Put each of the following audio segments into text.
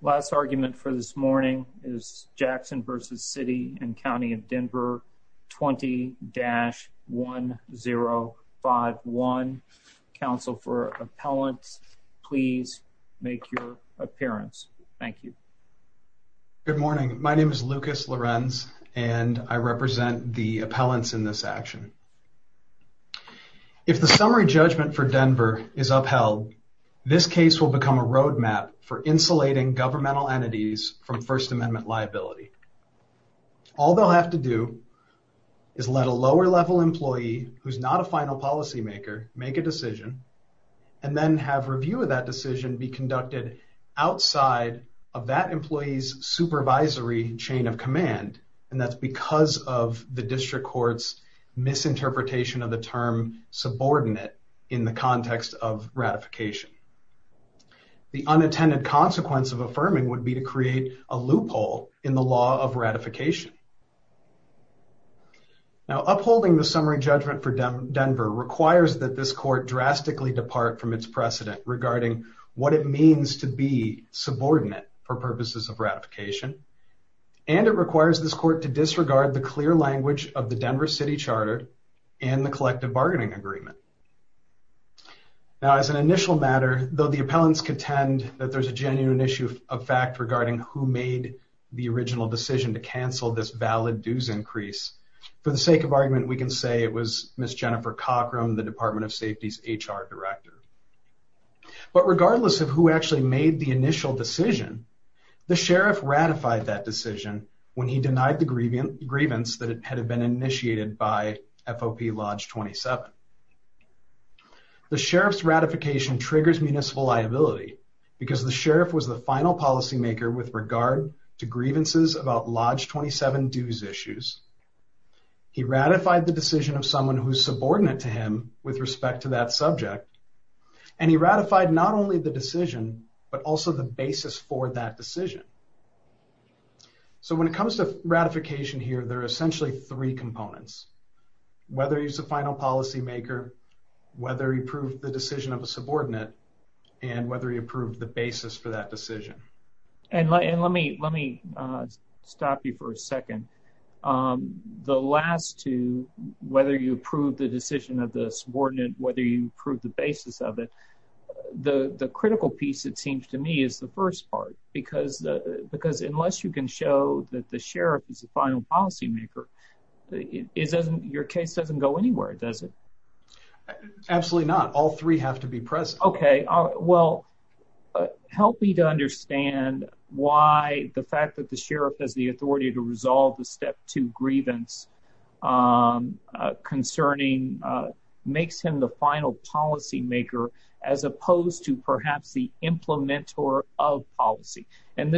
Last argument for this morning is Jackson versus City and County of Denver 20-1051. Counsel for appellants, please make your appearance. Thank you. Good morning. My name is Lucas Lorenz and I represent the appellants in this action. If the summary judgment for Denver is upheld, this case will become a roadmap for insulating governmental entities from First Amendment liability. All they'll have to do is let a lower level employee who's not a final policymaker make a decision and then have review of that decision be conducted outside of that employee's supervisory chain of command and that's because of the district court's misinterpretation of the term subordinate in the context of ratification. The unintended consequence of affirming would be to create a loophole in the law of ratification. Now, upholding the summary judgment for Denver requires that this court drastically depart from its precedent regarding what it means to be subordinate for purposes of ratification and it requires this court to disregard the clear language of the Denver City Charter and the collective bargaining agreement. Now, as an initial matter, though the appellants contend that there's a genuine issue of fact regarding who made the original decision to cancel this valid dues increase, for the sake of argument we can say it was Ms. Jennifer Cockrum, the Department of Safety's HR director. But regardless of who actually made the initial decision, the sheriff ratified that decision when he denied the grievance that had been initiated by FOP Lodge 27. The sheriff's ratification triggers municipal liability because the sheriff was the final policymaker with regard to grievances about Lodge 27 dues issues. He ratified the decision of someone who's subordinate to him with respect to that subject and he ratified not only the So when it comes to ratification here, there are essentially three components. Whether he's the final policymaker, whether he approved the decision of a subordinate, and whether he approved the basis for that decision. And let me stop you for a second. The last two, whether you approve the decision of the subordinate, whether you approve the basis of the the critical piece, it seems to me, is the first part. Because unless you can show that the sheriff is the final policymaker, your case doesn't go anywhere, does it? Absolutely not. All three have to be present. Okay. Well, help me to understand why the fact that the sheriff has the authority to resolve the step two grievance concerning makes him the final policymaker as opposed to perhaps the implementer of policy. And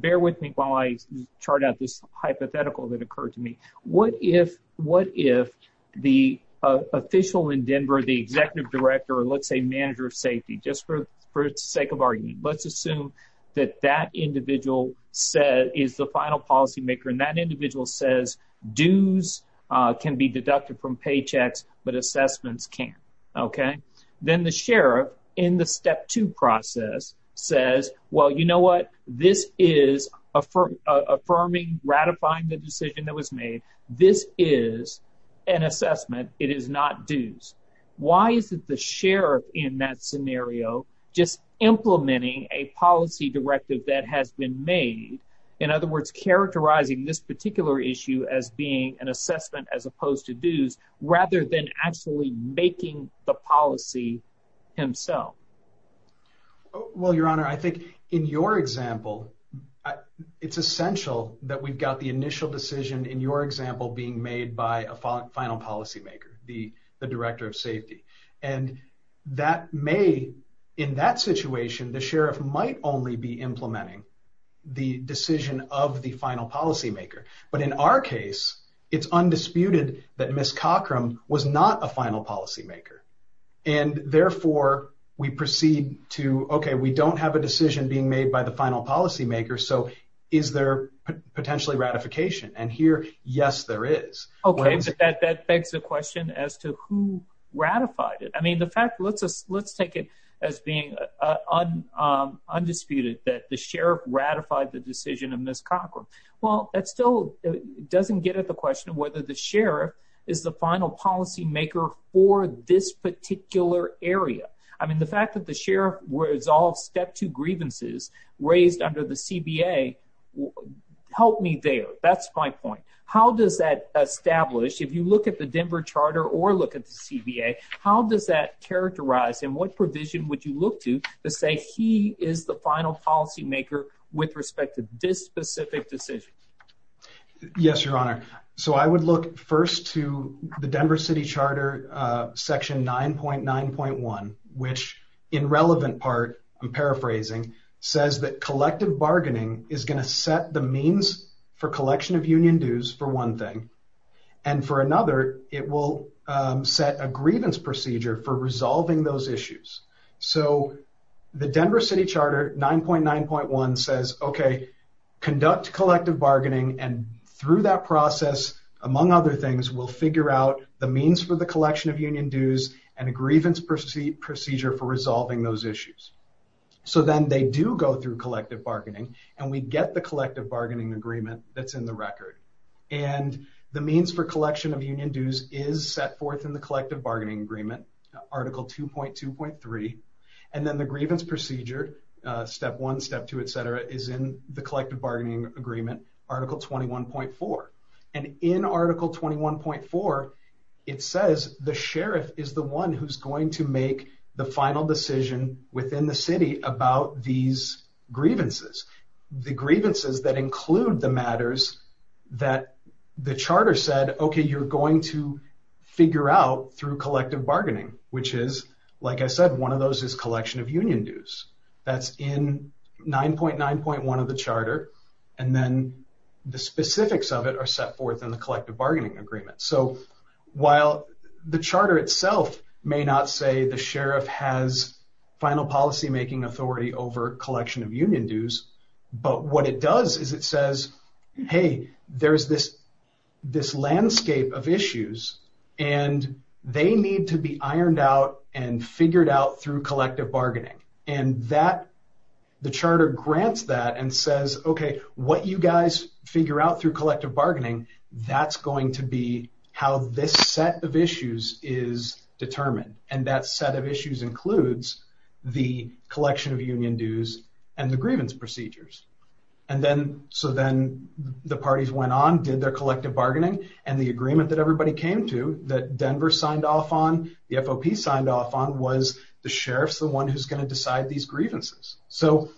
bear with me while I chart out this hypothetical that occurred to me. What if the official in Denver, the executive director, or let's say manager of safety, just for sake of argument, let's assume that that individual is the final policymaker and that individual says dues can be deducted from paychecks, but assessments can't. Okay. Then the sheriff in the step two process says, well, you know what? This is affirming, ratifying the decision that was made. This is an assessment. It is not dues. Why is it the sheriff in that scenario just implementing a policy directive that has been made? In other words, characterizing this particular issue as being an assessment, as opposed to dues, rather than actually making the policy himself? Well, your honor, I think in your example, it's essential that we've got the initial decision in your example being made by a final policymaker, the director of safety. And that may, in that the decision of the final policymaker, but in our case, it's undisputed that Ms. Cochram was not a final policymaker. And therefore we proceed to, okay, we don't have a decision being made by the final policymaker. So is there potentially ratification? And here, yes, there is. Okay. But that begs the question as to who ratified it. I mean, the fact let's take it as being undisputed that the sheriff ratified the decision of Ms. Cochram. Well, that still doesn't get at the question of whether the sheriff is the final policymaker for this particular area. I mean, the fact that the sheriff resolved step two grievances raised under the CBA helped me there. That's my point. How does that establish, if you look at the Denver charter or look at the characterized and what provision would you look to to say he is the final policymaker with respect to this specific decision? Yes, your honor. So I would look first to the Denver city charter section 9.9.1, which in relevant part, I'm paraphrasing says that collective bargaining is going to set the means for collection of union dues for one thing. And for another, it will set a grievance procedure for resolving those issues. So the Denver city charter 9.9.1 says, okay, conduct collective bargaining. And through that process, among other things, we'll figure out the means for the collection of union dues and a grievance procedure for resolving those issues. So then they do go through collective bargaining and we get the collective bargaining agreement that's in the record. And the means for collection of union dues is set forth in the collective bargaining agreement, article 2.2.3. And then the grievance procedure, step one, step two, et cetera, is in the collective bargaining agreement, article 21.4. And in article 21.4, it says the sheriff is the one who's going to make the final decision within the city about these grievances. The grievances that include the matters that the charter said, okay, you're going to figure out through collective bargaining, which is, like I said, one of those is collection of union dues. That's in 9.9.1 of the charter. And then the specifics of it are set forth in the collective bargaining agreement. So while the charter itself may not say the sheriff has final policymaking authority over collection of union dues, but what it does is it says, hey, there's this landscape of issues and they need to be ironed out and figured out through collective bargaining. And the charter grants that and says, okay, what you guys figure out through collective bargaining, that's going to be how this set of issues is determined. And that set of issues includes the collection of union dues and the grievance procedures. And then, so then the parties went on, did their collective bargaining, and the agreement that everybody came to, that Denver signed off on, the FOP signed off on, was the sheriff's the one who's grievances. So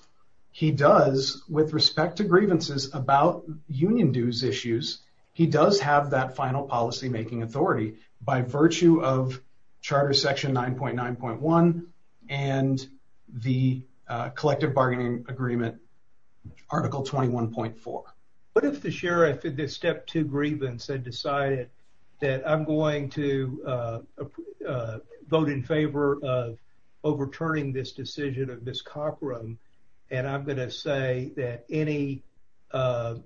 he does, with respect to grievances about union dues issues, he does have that final policymaking authority by virtue of charter section 9.9.1 and the collective bargaining agreement, article 21.4. What if the sheriff in this step two grievance had decided that I'm going to vote in favor of overturning this decision of Ms. Cockrum, and I'm going to say that any, that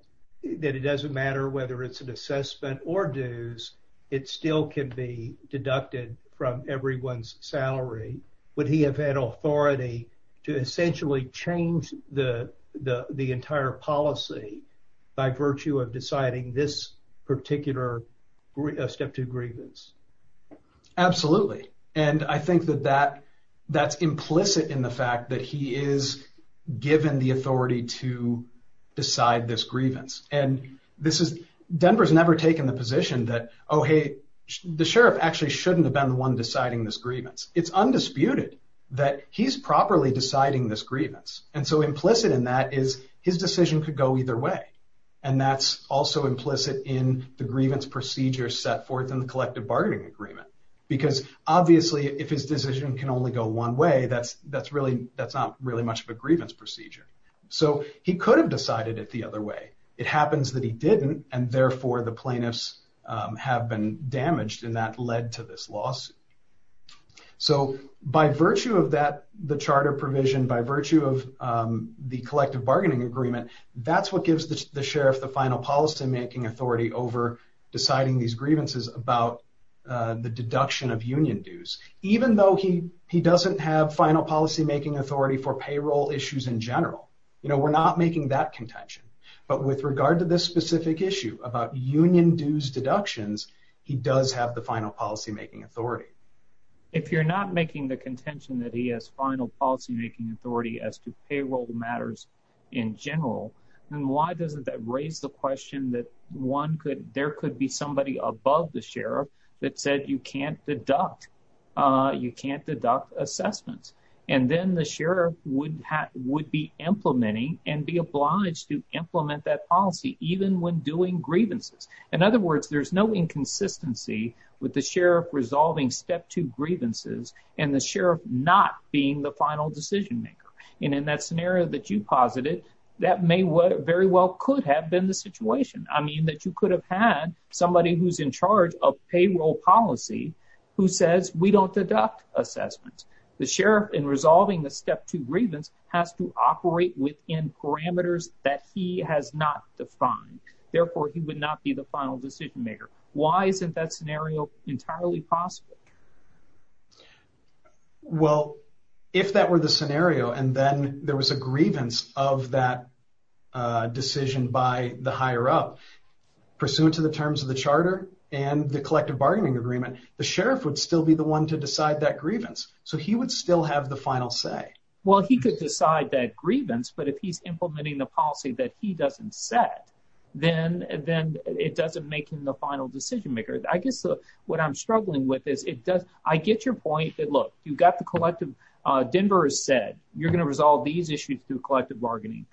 it doesn't matter whether it's an assessment or dues, it still can be deducted from everyone's salary. Would he have had authority to essentially change the entire policy by virtue of deciding this particular step two grievance? Absolutely. And I think that that's implicit in the fact that he is given the authority to decide this grievance. And this is, Denver's never taken the position that, oh hey, the sheriff actually shouldn't have been the one deciding this grievance. It's undisputed that he's properly deciding this grievance. And so implicit in that is his decision could go either way. And that's also implicit in the grievance procedure set forth in the collective bargaining agreement. Because obviously if his decision can only go one way, that's really, that's not really much of a grievance procedure. So he could have decided it the other way. It happens that he didn't and therefore the plaintiffs have been damaged and that led to this lawsuit. So by virtue of that, the charter provision, by virtue of the collective bargaining agreement, that's what gives the sheriff the final policymaking authority over deciding these grievances about the deduction of union dues. Even though he doesn't have final policymaking authority for payroll issues in general, you know, we're not making that contention. But with regard to this specific issue about union dues deductions, he does have the final policymaking authority. If you're not making the contention that he has final policymaking authority as to payroll matters in general, then why doesn't that raise the question that there could be somebody above the sheriff that said you can't deduct, you can't deduct assessments. And then the sheriff would be implementing and be obliged to implement that policy, even when doing grievances. In other words, there's no inconsistency with the sheriff resolving step two grievances and the sheriff not being the final decision maker. And in that scenario that you posited, that may very well could have been the situation. I mean that you could have had somebody who's in charge of payroll policy who says we don't deduct assessments. The sheriff in resolving the step two grievance has to operate within parameters that he has not defined. Therefore, he would not be the final decision maker. Why isn't that scenario entirely possible? Well, if that were the scenario and then there was a grievance of that decision by the higher up, pursuant to the terms of the charter and the collective bargaining agreement, the sheriff would still be the one to decide that grievance. So he would still have the final say. Well, he could decide that grievance, but if he's implementing the policy that he doesn't set, then it doesn't make him the final decision maker. I guess what I'm struggling with is I get your point that, look, Denver has said you're going to resolve these issues through collective bargaining.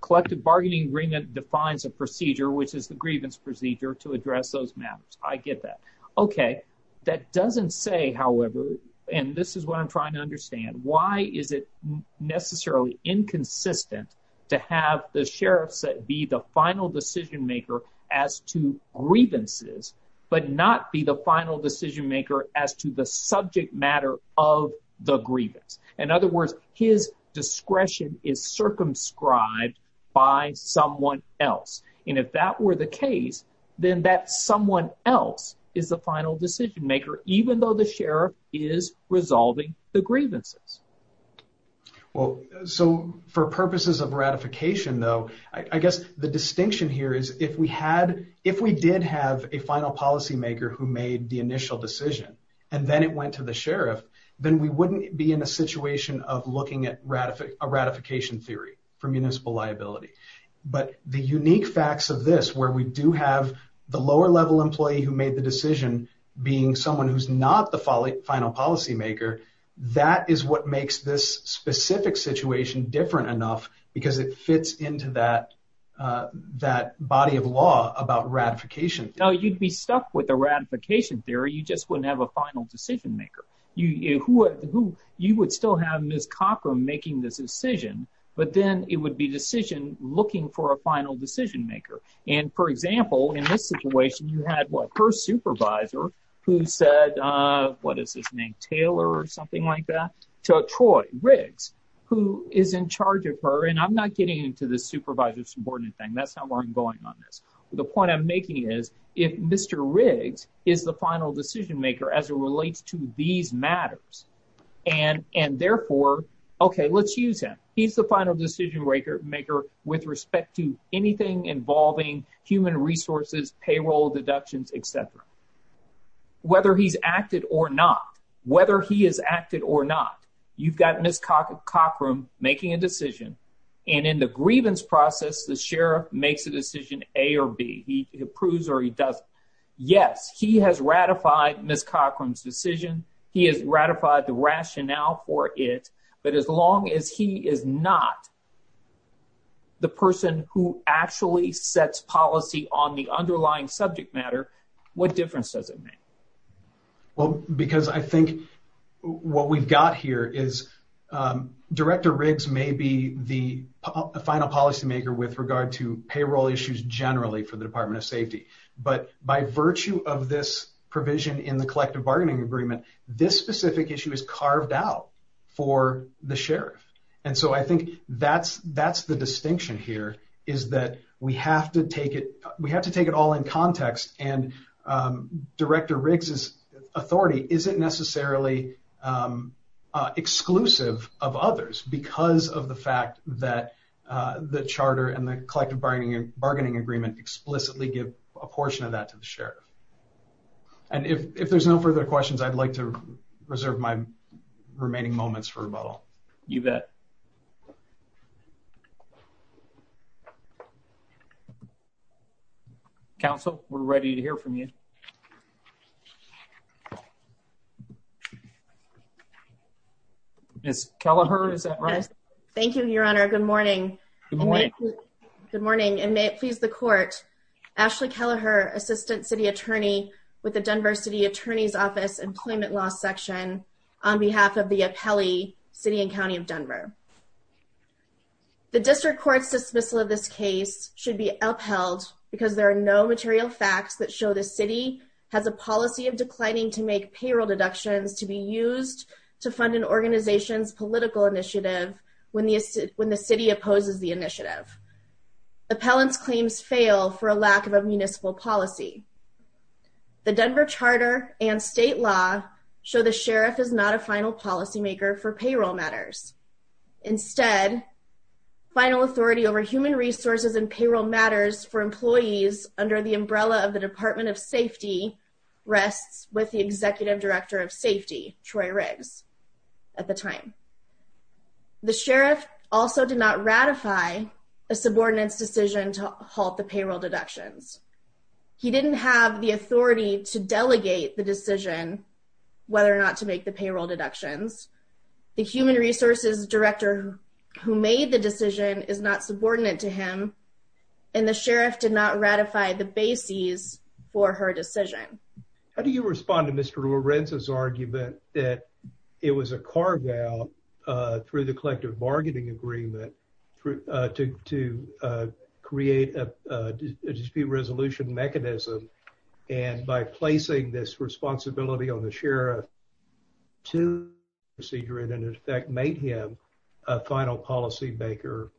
Collective bargaining agreement defines a procedure, which is the grievance procedure to address those matters. I get that. Okay. That doesn't say, however, and this is what I'm trying to understand, why is it necessarily inconsistent to have the as to grievances, but not be the final decision maker as to the subject matter of the grievance? In other words, his discretion is circumscribed by someone else. And if that were the case, then that someone else is the final decision maker, even though the sheriff is resolving the grievances. Well, so for purposes of ratification, though, I guess the distinction here is if we did have a final policy maker who made the initial decision, and then it went to the sheriff, then we wouldn't be in a situation of looking at a ratification theory for municipal liability. But the unique facts of this, where we do have the lower level employee who made the decision being someone who's not the final policy maker, that is what makes this specific situation different enough, because it fits into that, that body of law about ratification. Now, you'd be stuck with a ratification theory, you just wouldn't have a final decision maker, you who, you would still have Miss Cochran making this decision, but then it would be decision looking for a final decision maker. And for example, in this situation, you had what her supervisor, who said, what is his name, Taylor or something like that, to Troy Riggs, who is in charge of her and I'm not getting into the supervisor subordinate thing. That's not where I'm going on this. The point I'm making is, if Mr. Riggs is the final decision maker as it relates to these matters, and therefore, okay, let's use him. He's the final decision maker with respect to whether he's acted or not, whether he has acted or not. You've got Miss Cochran making a decision. And in the grievance process, the sheriff makes a decision A or B, he approves or he doesn't. Yes, he has ratified Miss Cochran's decision. He has ratified the rationale for it. But as long as he is not the person who actually sets policy on the underlying subject matter, what difference does it make? Well, because I think what we've got here is, Director Riggs may be the final policymaker with regard to payroll issues generally for the Department of Safety. But by virtue of this provision in the collective bargaining agreement, this specific issue is carved out for the sheriff. And so I think that's the distinction here is that we have to take it all in context. And Director Riggs' authority isn't necessarily exclusive of others because of the fact that the charter and the collective bargaining agreement explicitly give a portion of that to the public. You bet. Counsel, we're ready to hear from you. Miss Kelleher, is that right? Thank you, Your Honor, good morning. Good morning, and may it please the court, Ashley Kelleher, Assistant City Attorney with the Denver City Attorney's Office Employment Law Section on behalf of the appellee, City and County of Denver. The district court's dismissal of this case should be upheld because there are no material facts that show the city has a policy of declining to make payroll deductions to be used to fund an organization's political initiative when the city opposes the initiative. Appellants' claims fail for a lack of a municipal policy. The Denver charter and state law show the sheriff is not a final policymaker for payroll matters. Instead, final authority over human resources and payroll matters for employees under the umbrella of the Department of Safety rests with the Executive Director of Safety, Troy Riggs, at the time. The sheriff also did not ratify a subordinate's decision to halt the payroll deductions. He didn't have the authority to delegate the decision whether or not to make the payroll deductions. The human resources director who made the decision is not subordinate to him, and the sheriff did not ratify the bases for her decision. How do you respond to Mr. Lorenzo's argument that it was a carve-out through the collective bargaining agreement to create a dispute resolution mechanism, and by placing this responsibility on the sheriff to make him a final policymaker?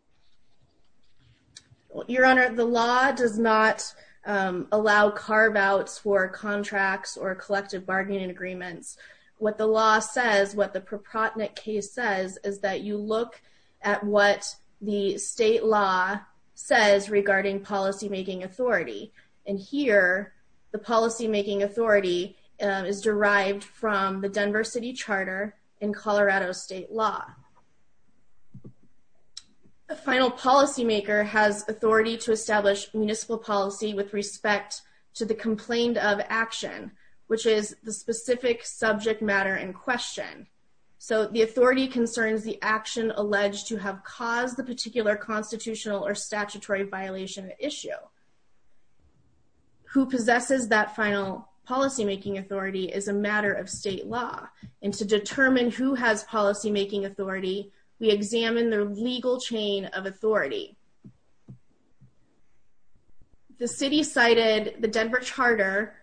Your Honor, the law does not allow carve-outs for contracts or collective bargaining agreements. What the law says, what the proprietary case says, is that you look at what the state law says regarding policymaking authority. And here, the policymaking authority is derived from the Denver City Charter and Colorado state law. A final policymaker has authority to establish municipal policy with respect to the complaint of action, which is the specific subject matter in question. So, the authority concerns the action alleged to have caused the particular constitutional or statutory violation issue. Who possesses that final policymaking authority is a matter of state law, and to determine who has policymaking authority, we examine the legal chain of authority. The city cited the Denver Charter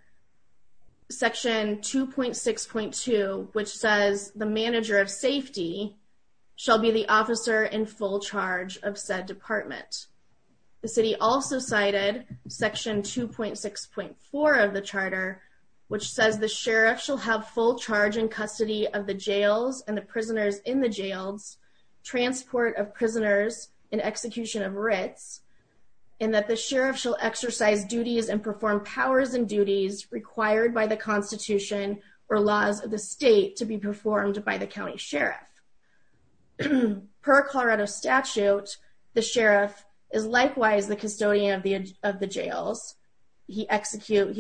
Section 2.6.2, which says the manager of safety shall be the officer in full charge of said department. The city also cited Section 2.6.4 of the charter, which says the sheriff shall have full charge in custody of the jails and the writs, and that the sheriff shall exercise duties and perform powers and duties required by the constitution or laws of the state to be performed by the county sheriff. Per Colorado statute, the sheriff is likewise the custodian of the jails. He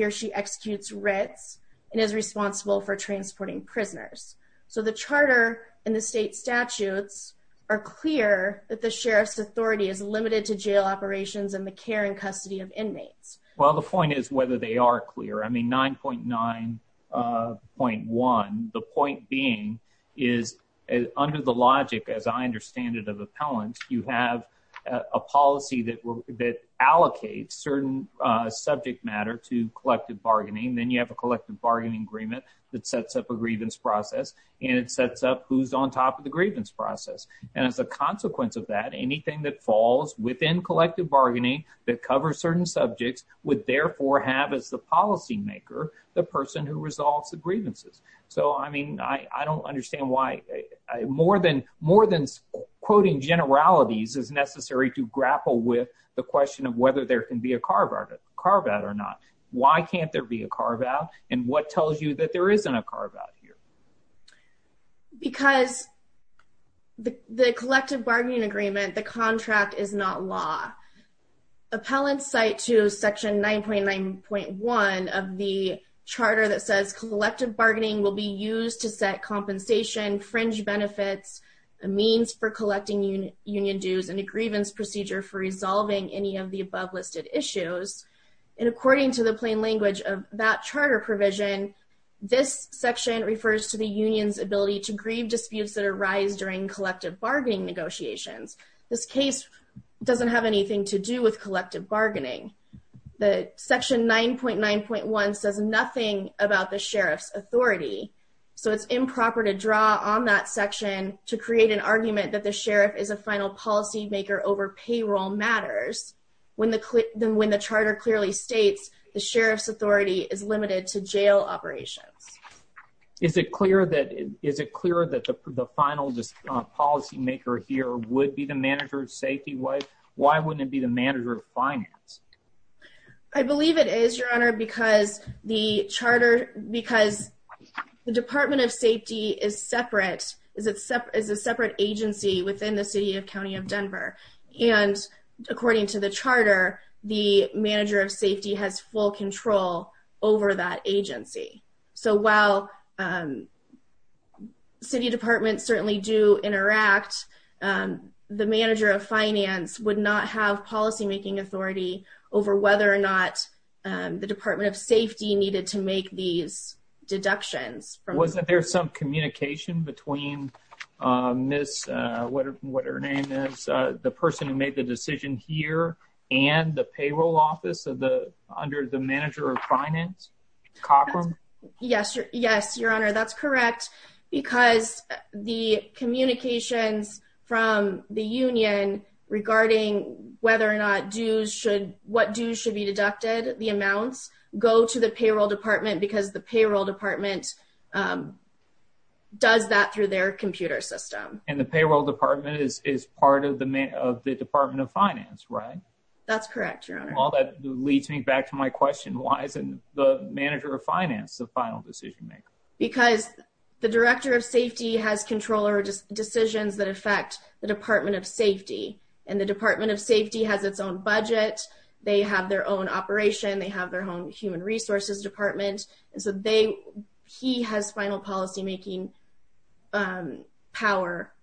or she executes writs and is responsible for transporting prisoners. So, the charter and the state statutes are clear that the sheriff's authority is limited to jail operations and the care and custody of inmates. Well, the point is whether they are clear. I mean, 9.9.1, the point being is under the logic, as I understand it, of appellants, you have a policy that allocates certain subject matter to collective bargaining. Then you have a collective bargaining agreement that sets up a grievance process, and as a consequence of that, anything that falls within collective bargaining that covers certain subjects would therefore have as the policymaker the person who resolves the grievances. So, I mean, I don't understand why more than quoting generalities is necessary to grapple with the question of whether there can be a carve-out or not. Why can't there be a carve-out, and what tells you that there isn't a carve-out here? Because the collective bargaining agreement, the contract, is not law. Appellants cite to section 9.9.1 of the charter that says collective bargaining will be used to set compensation, fringe benefits, a means for collecting union dues, and a grievance procedure for resolving any of the above listed issues. And according to the plain language of that provision, this section refers to the union's ability to grieve disputes that arise during collective bargaining negotiations. This case doesn't have anything to do with collective bargaining. The section 9.9.1 says nothing about the sheriff's authority, so it's improper to draw on that section to create an argument that the sheriff is a final policymaker over payroll matters, when the charter clearly states the sheriff's authority is limited to jail operations. Is it clear that the final policymaker here would be the manager of safety? Why wouldn't it be the manager of finance? I believe it is, Your Honor, because the department of safety is a separate agency within the city and county of Denver, and according to the charter, the manager of safety has full control over that agency. So while city departments certainly do interact, the manager of finance would not have policymaking authority over whether or not the department of safety needed to what her name is, the person who made the decision here and the payroll office of the under the manager of finance, Cochran? Yes, Your Honor, that's correct, because the communications from the union regarding whether or not dues should, what dues should be deducted, the amounts go to the payroll department because the payroll department does that through their computer system. And the payroll department is part of the department of finance, right? That's correct, Your Honor. All that leads me back to my question, why isn't the manager of finance the final decision maker? Because the director of safety has control over decisions that affect the department of safety, and the department of safety has its own budget, they have their own operation, they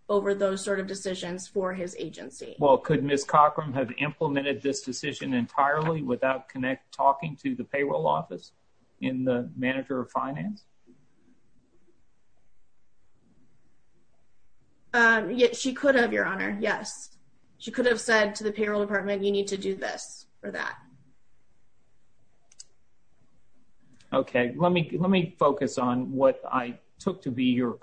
over those sort of decisions for his agency. Well, could Ms. Cochran have implemented this decision entirely without connect talking to the payroll office in the manager of finance? She could have, Your Honor, yes, she could have said to the payroll department, you need to do this or that. Okay, let me let me focus on what I took to be your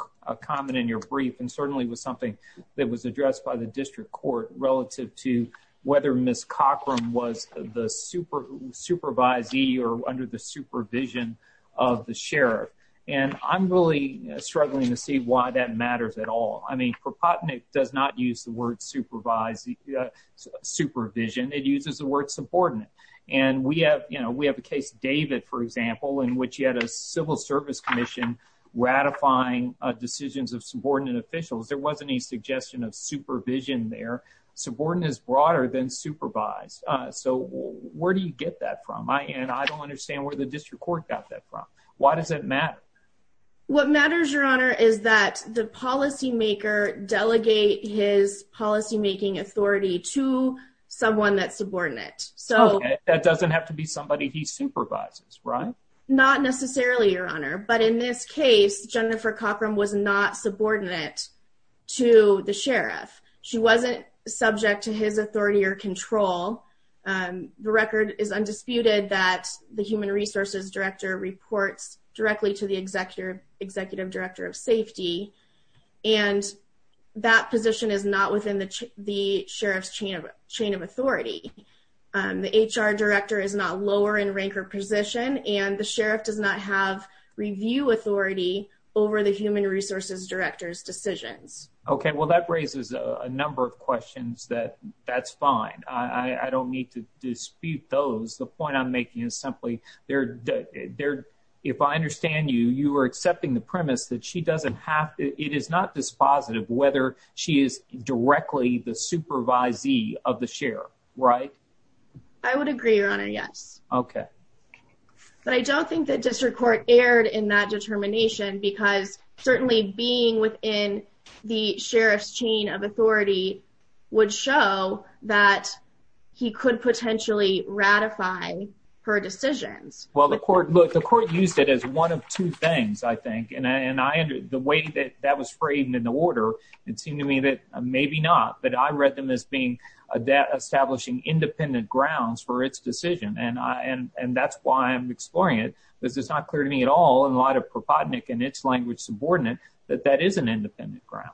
comment in your brief, and certainly was something that was addressed by the district court relative to whether Ms. Cochran was the supervisee or under the supervision of the sheriff. And I'm really struggling to see why that matters at all. I mean, propotinic does not use the word supervise, supervision, it uses the word subordinate. And we have, you know, we have a case David, for example, in which he had a civil service commission, ratifying decisions of subordinate officials, there wasn't any suggestion of supervision, their subordinate is broader than supervised. So where do you get that from? I and I don't understand where the district court got that from? Why does it matter? What matters, Your Honor, is that the policymaker delegate his policymaking authority to someone that's subordinate. So that doesn't have to be somebody he supervises, right? Not necessarily, Your Honor. But in this case, Jennifer Cochran was not subordinate to the sheriff, she wasn't subject to his authority or control. The record is undisputed that the human resources director reports directly to the executive executive director of safety. And that position is not within the sheriff's chain of authority. The HR director is not lower in rank or position, and the sheriff does not have review authority over the human resources director's decisions. Okay, well, that raises a number of questions that that's fine. I don't need to dispute those. The point I'm making is simply there. If I understand you, you are accepting the premise that she doesn't have it is not dispositive whether she is directly the supervisee of the sheriff, right? I would agree, Your Honor. Yes. Okay. But I don't think that district court erred in that determination. Because certainly being within the sheriff's chain of authority would show that he could potentially ratify her decisions. Well, the court look, the court used it as one of two things, I think. And I and the way that that was framed in the order, it seemed to me that maybe not, but I read them as being a debt establishing independent grounds for its decision. And I and and that's why I'm exploring it. Because it's not clear to me at all in light of propodnik and its language subordinate, that that is an independent ground.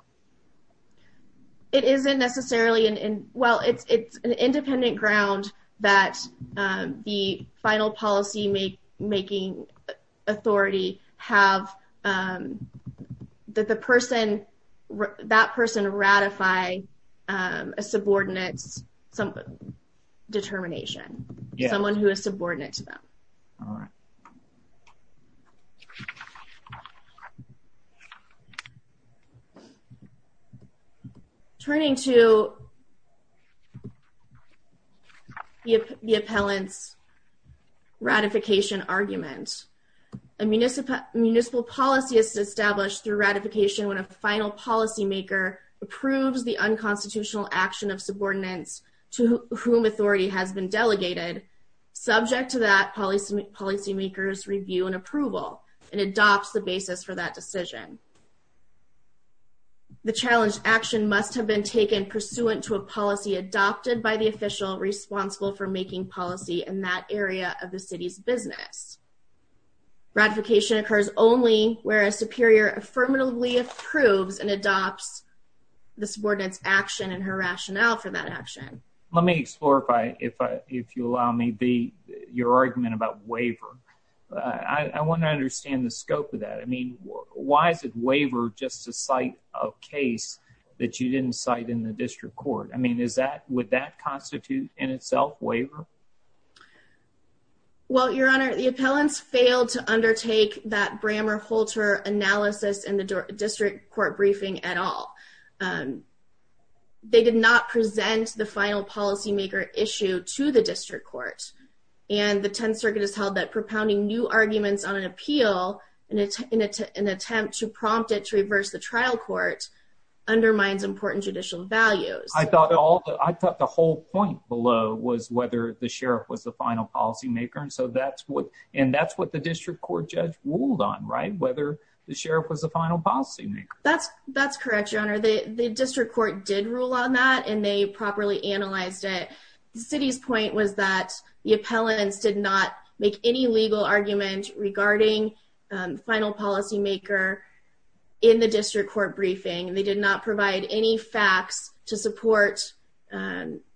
It isn't necessarily and well, it's it's an independent ground that the final policy make making authority have that the person that person ratify a subordinates, some determination, someone who is subordinate to them. All right. Turning to the appellant's ratification argument, a municipal municipal policy is established through ratification when a final policymaker approves the unconstitutional action of subordinates to whom authority has been delegated, subject to that policy policymakers review and approval and adopts the basis for that decision. The challenge action must have been taken pursuant to a policy adopted by the official responsible for making policy in that area of the city's business. ratification occurs only where a superior affirmatively approves and adopts the subordinates action and her rationale for that action. Let me explore if I if I if you allow me be your argument about waiver. I want to understand the waiver just to cite a case that you didn't cite in the district court. I mean, is that would that constitute in itself waiver? Well, Your Honor, the appellants failed to undertake that Brammer Holter analysis in the district court briefing at all. They did not present the final policymaker issue to the district court. And the 10th Circuit has held that propounding new arguments on an appeal and it's an attempt to prompt it to reverse the trial court undermines important judicial values. I thought all I thought the whole point below was whether the sheriff was the final policymaker. And so that's what and that's what the district court judge ruled on, right? Whether the sheriff was the final policymaker. That's, that's correct. Your Honor, the district court did rule on that, and they properly analyzed it. The city's point was that the appellants did not make any legal argument regarding final policymaker in the district court briefing. They did not provide any facts to support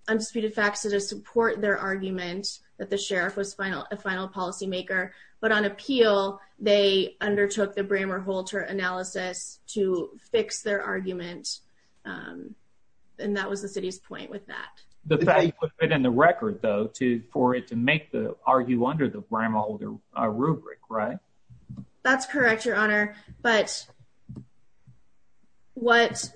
undisputed facts to support their argument that the sheriff was final, a final policymaker. But on appeal, they undertook the Brammer Holter analysis to fix their argument. And that was the city's point with that. The fact put in the record, though, to for it to make the argue under the Brammer Holter rubric, right? That's correct, Your Honor. But what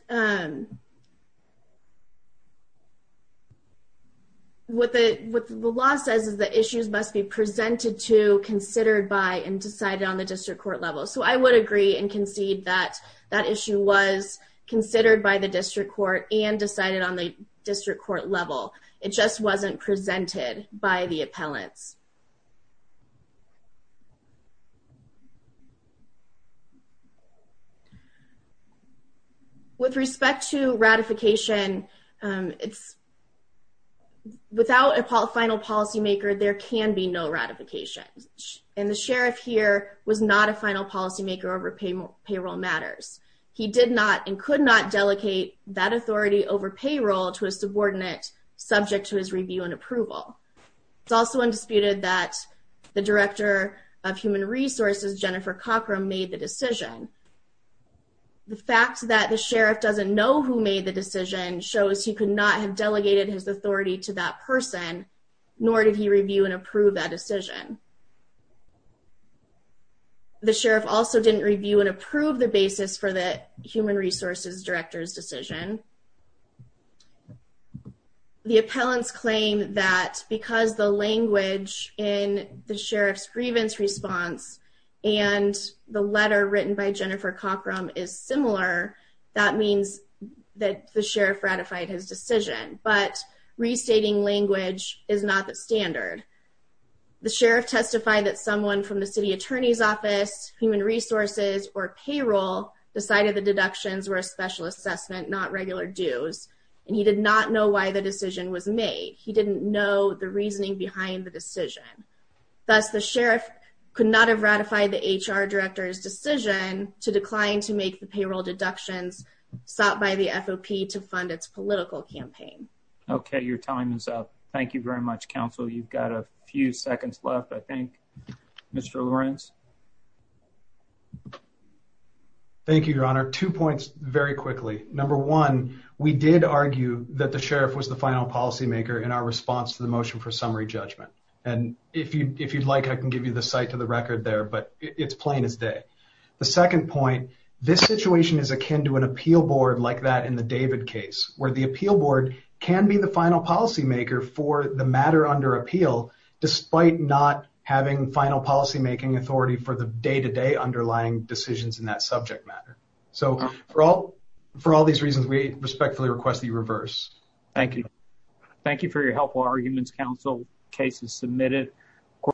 what the what the law says is the issues must be presented to considered by and decided on the district court level. So I would agree and concede that that issue was considered by the district court and decided on the district court level. It just wasn't presented by the appellants. With respect to ratification, it's without a final policymaker, there can be no ratification. And the sheriff here was not a final policymaker over payroll matters. He did not and could not delegate that authority over payroll to a subordinate subject to his review and approval. It's also undisputed that the director of human resources, Jennifer Cockrum, made the decision. The fact that the sheriff doesn't know who made the decision shows he could not have delegated his authority to that person, nor did he review and approve that decision. The sheriff also didn't review and approve the basis for the human resources director's decision. The appellants claim that because the language in the sheriff's grievance response and the letter written by Jennifer Cockrum is similar, that means that the sheriff ratified his decision. But restating language is not the standard. The sheriff testified that someone from the city attorney's office, human resources, or payroll decided the deductions were a special assessment, not regular dues. And he did not know why the decision was made. He didn't know the reasoning behind the decision. Thus, the sheriff could not have ratified the HR director's decision to decline to make the payroll deductions sought by the FOP to fund its political campaign. Okay, your time is up. Thank you very much, counsel. You've got a few seconds left, I think. Mr. Lawrence. Thank you, your honor. Two points very quickly. Number one, we did argue that the sheriff was the final policymaker in our response to the motion for summary judgment. And if you'd like, I can give you the site to the record there, but it's plain as day. The second point, this situation is akin to an appeal board like that in the David case, where the appeal board can be the final policymaker for the matter under appeal, despite not having final policymaking authority for the day-to-day underlying decisions in that subject matter. So, for all these reasons, we respectfully request that you reverse. Thank you. Thank you for your helpful arguments, counsel. Case is submitted.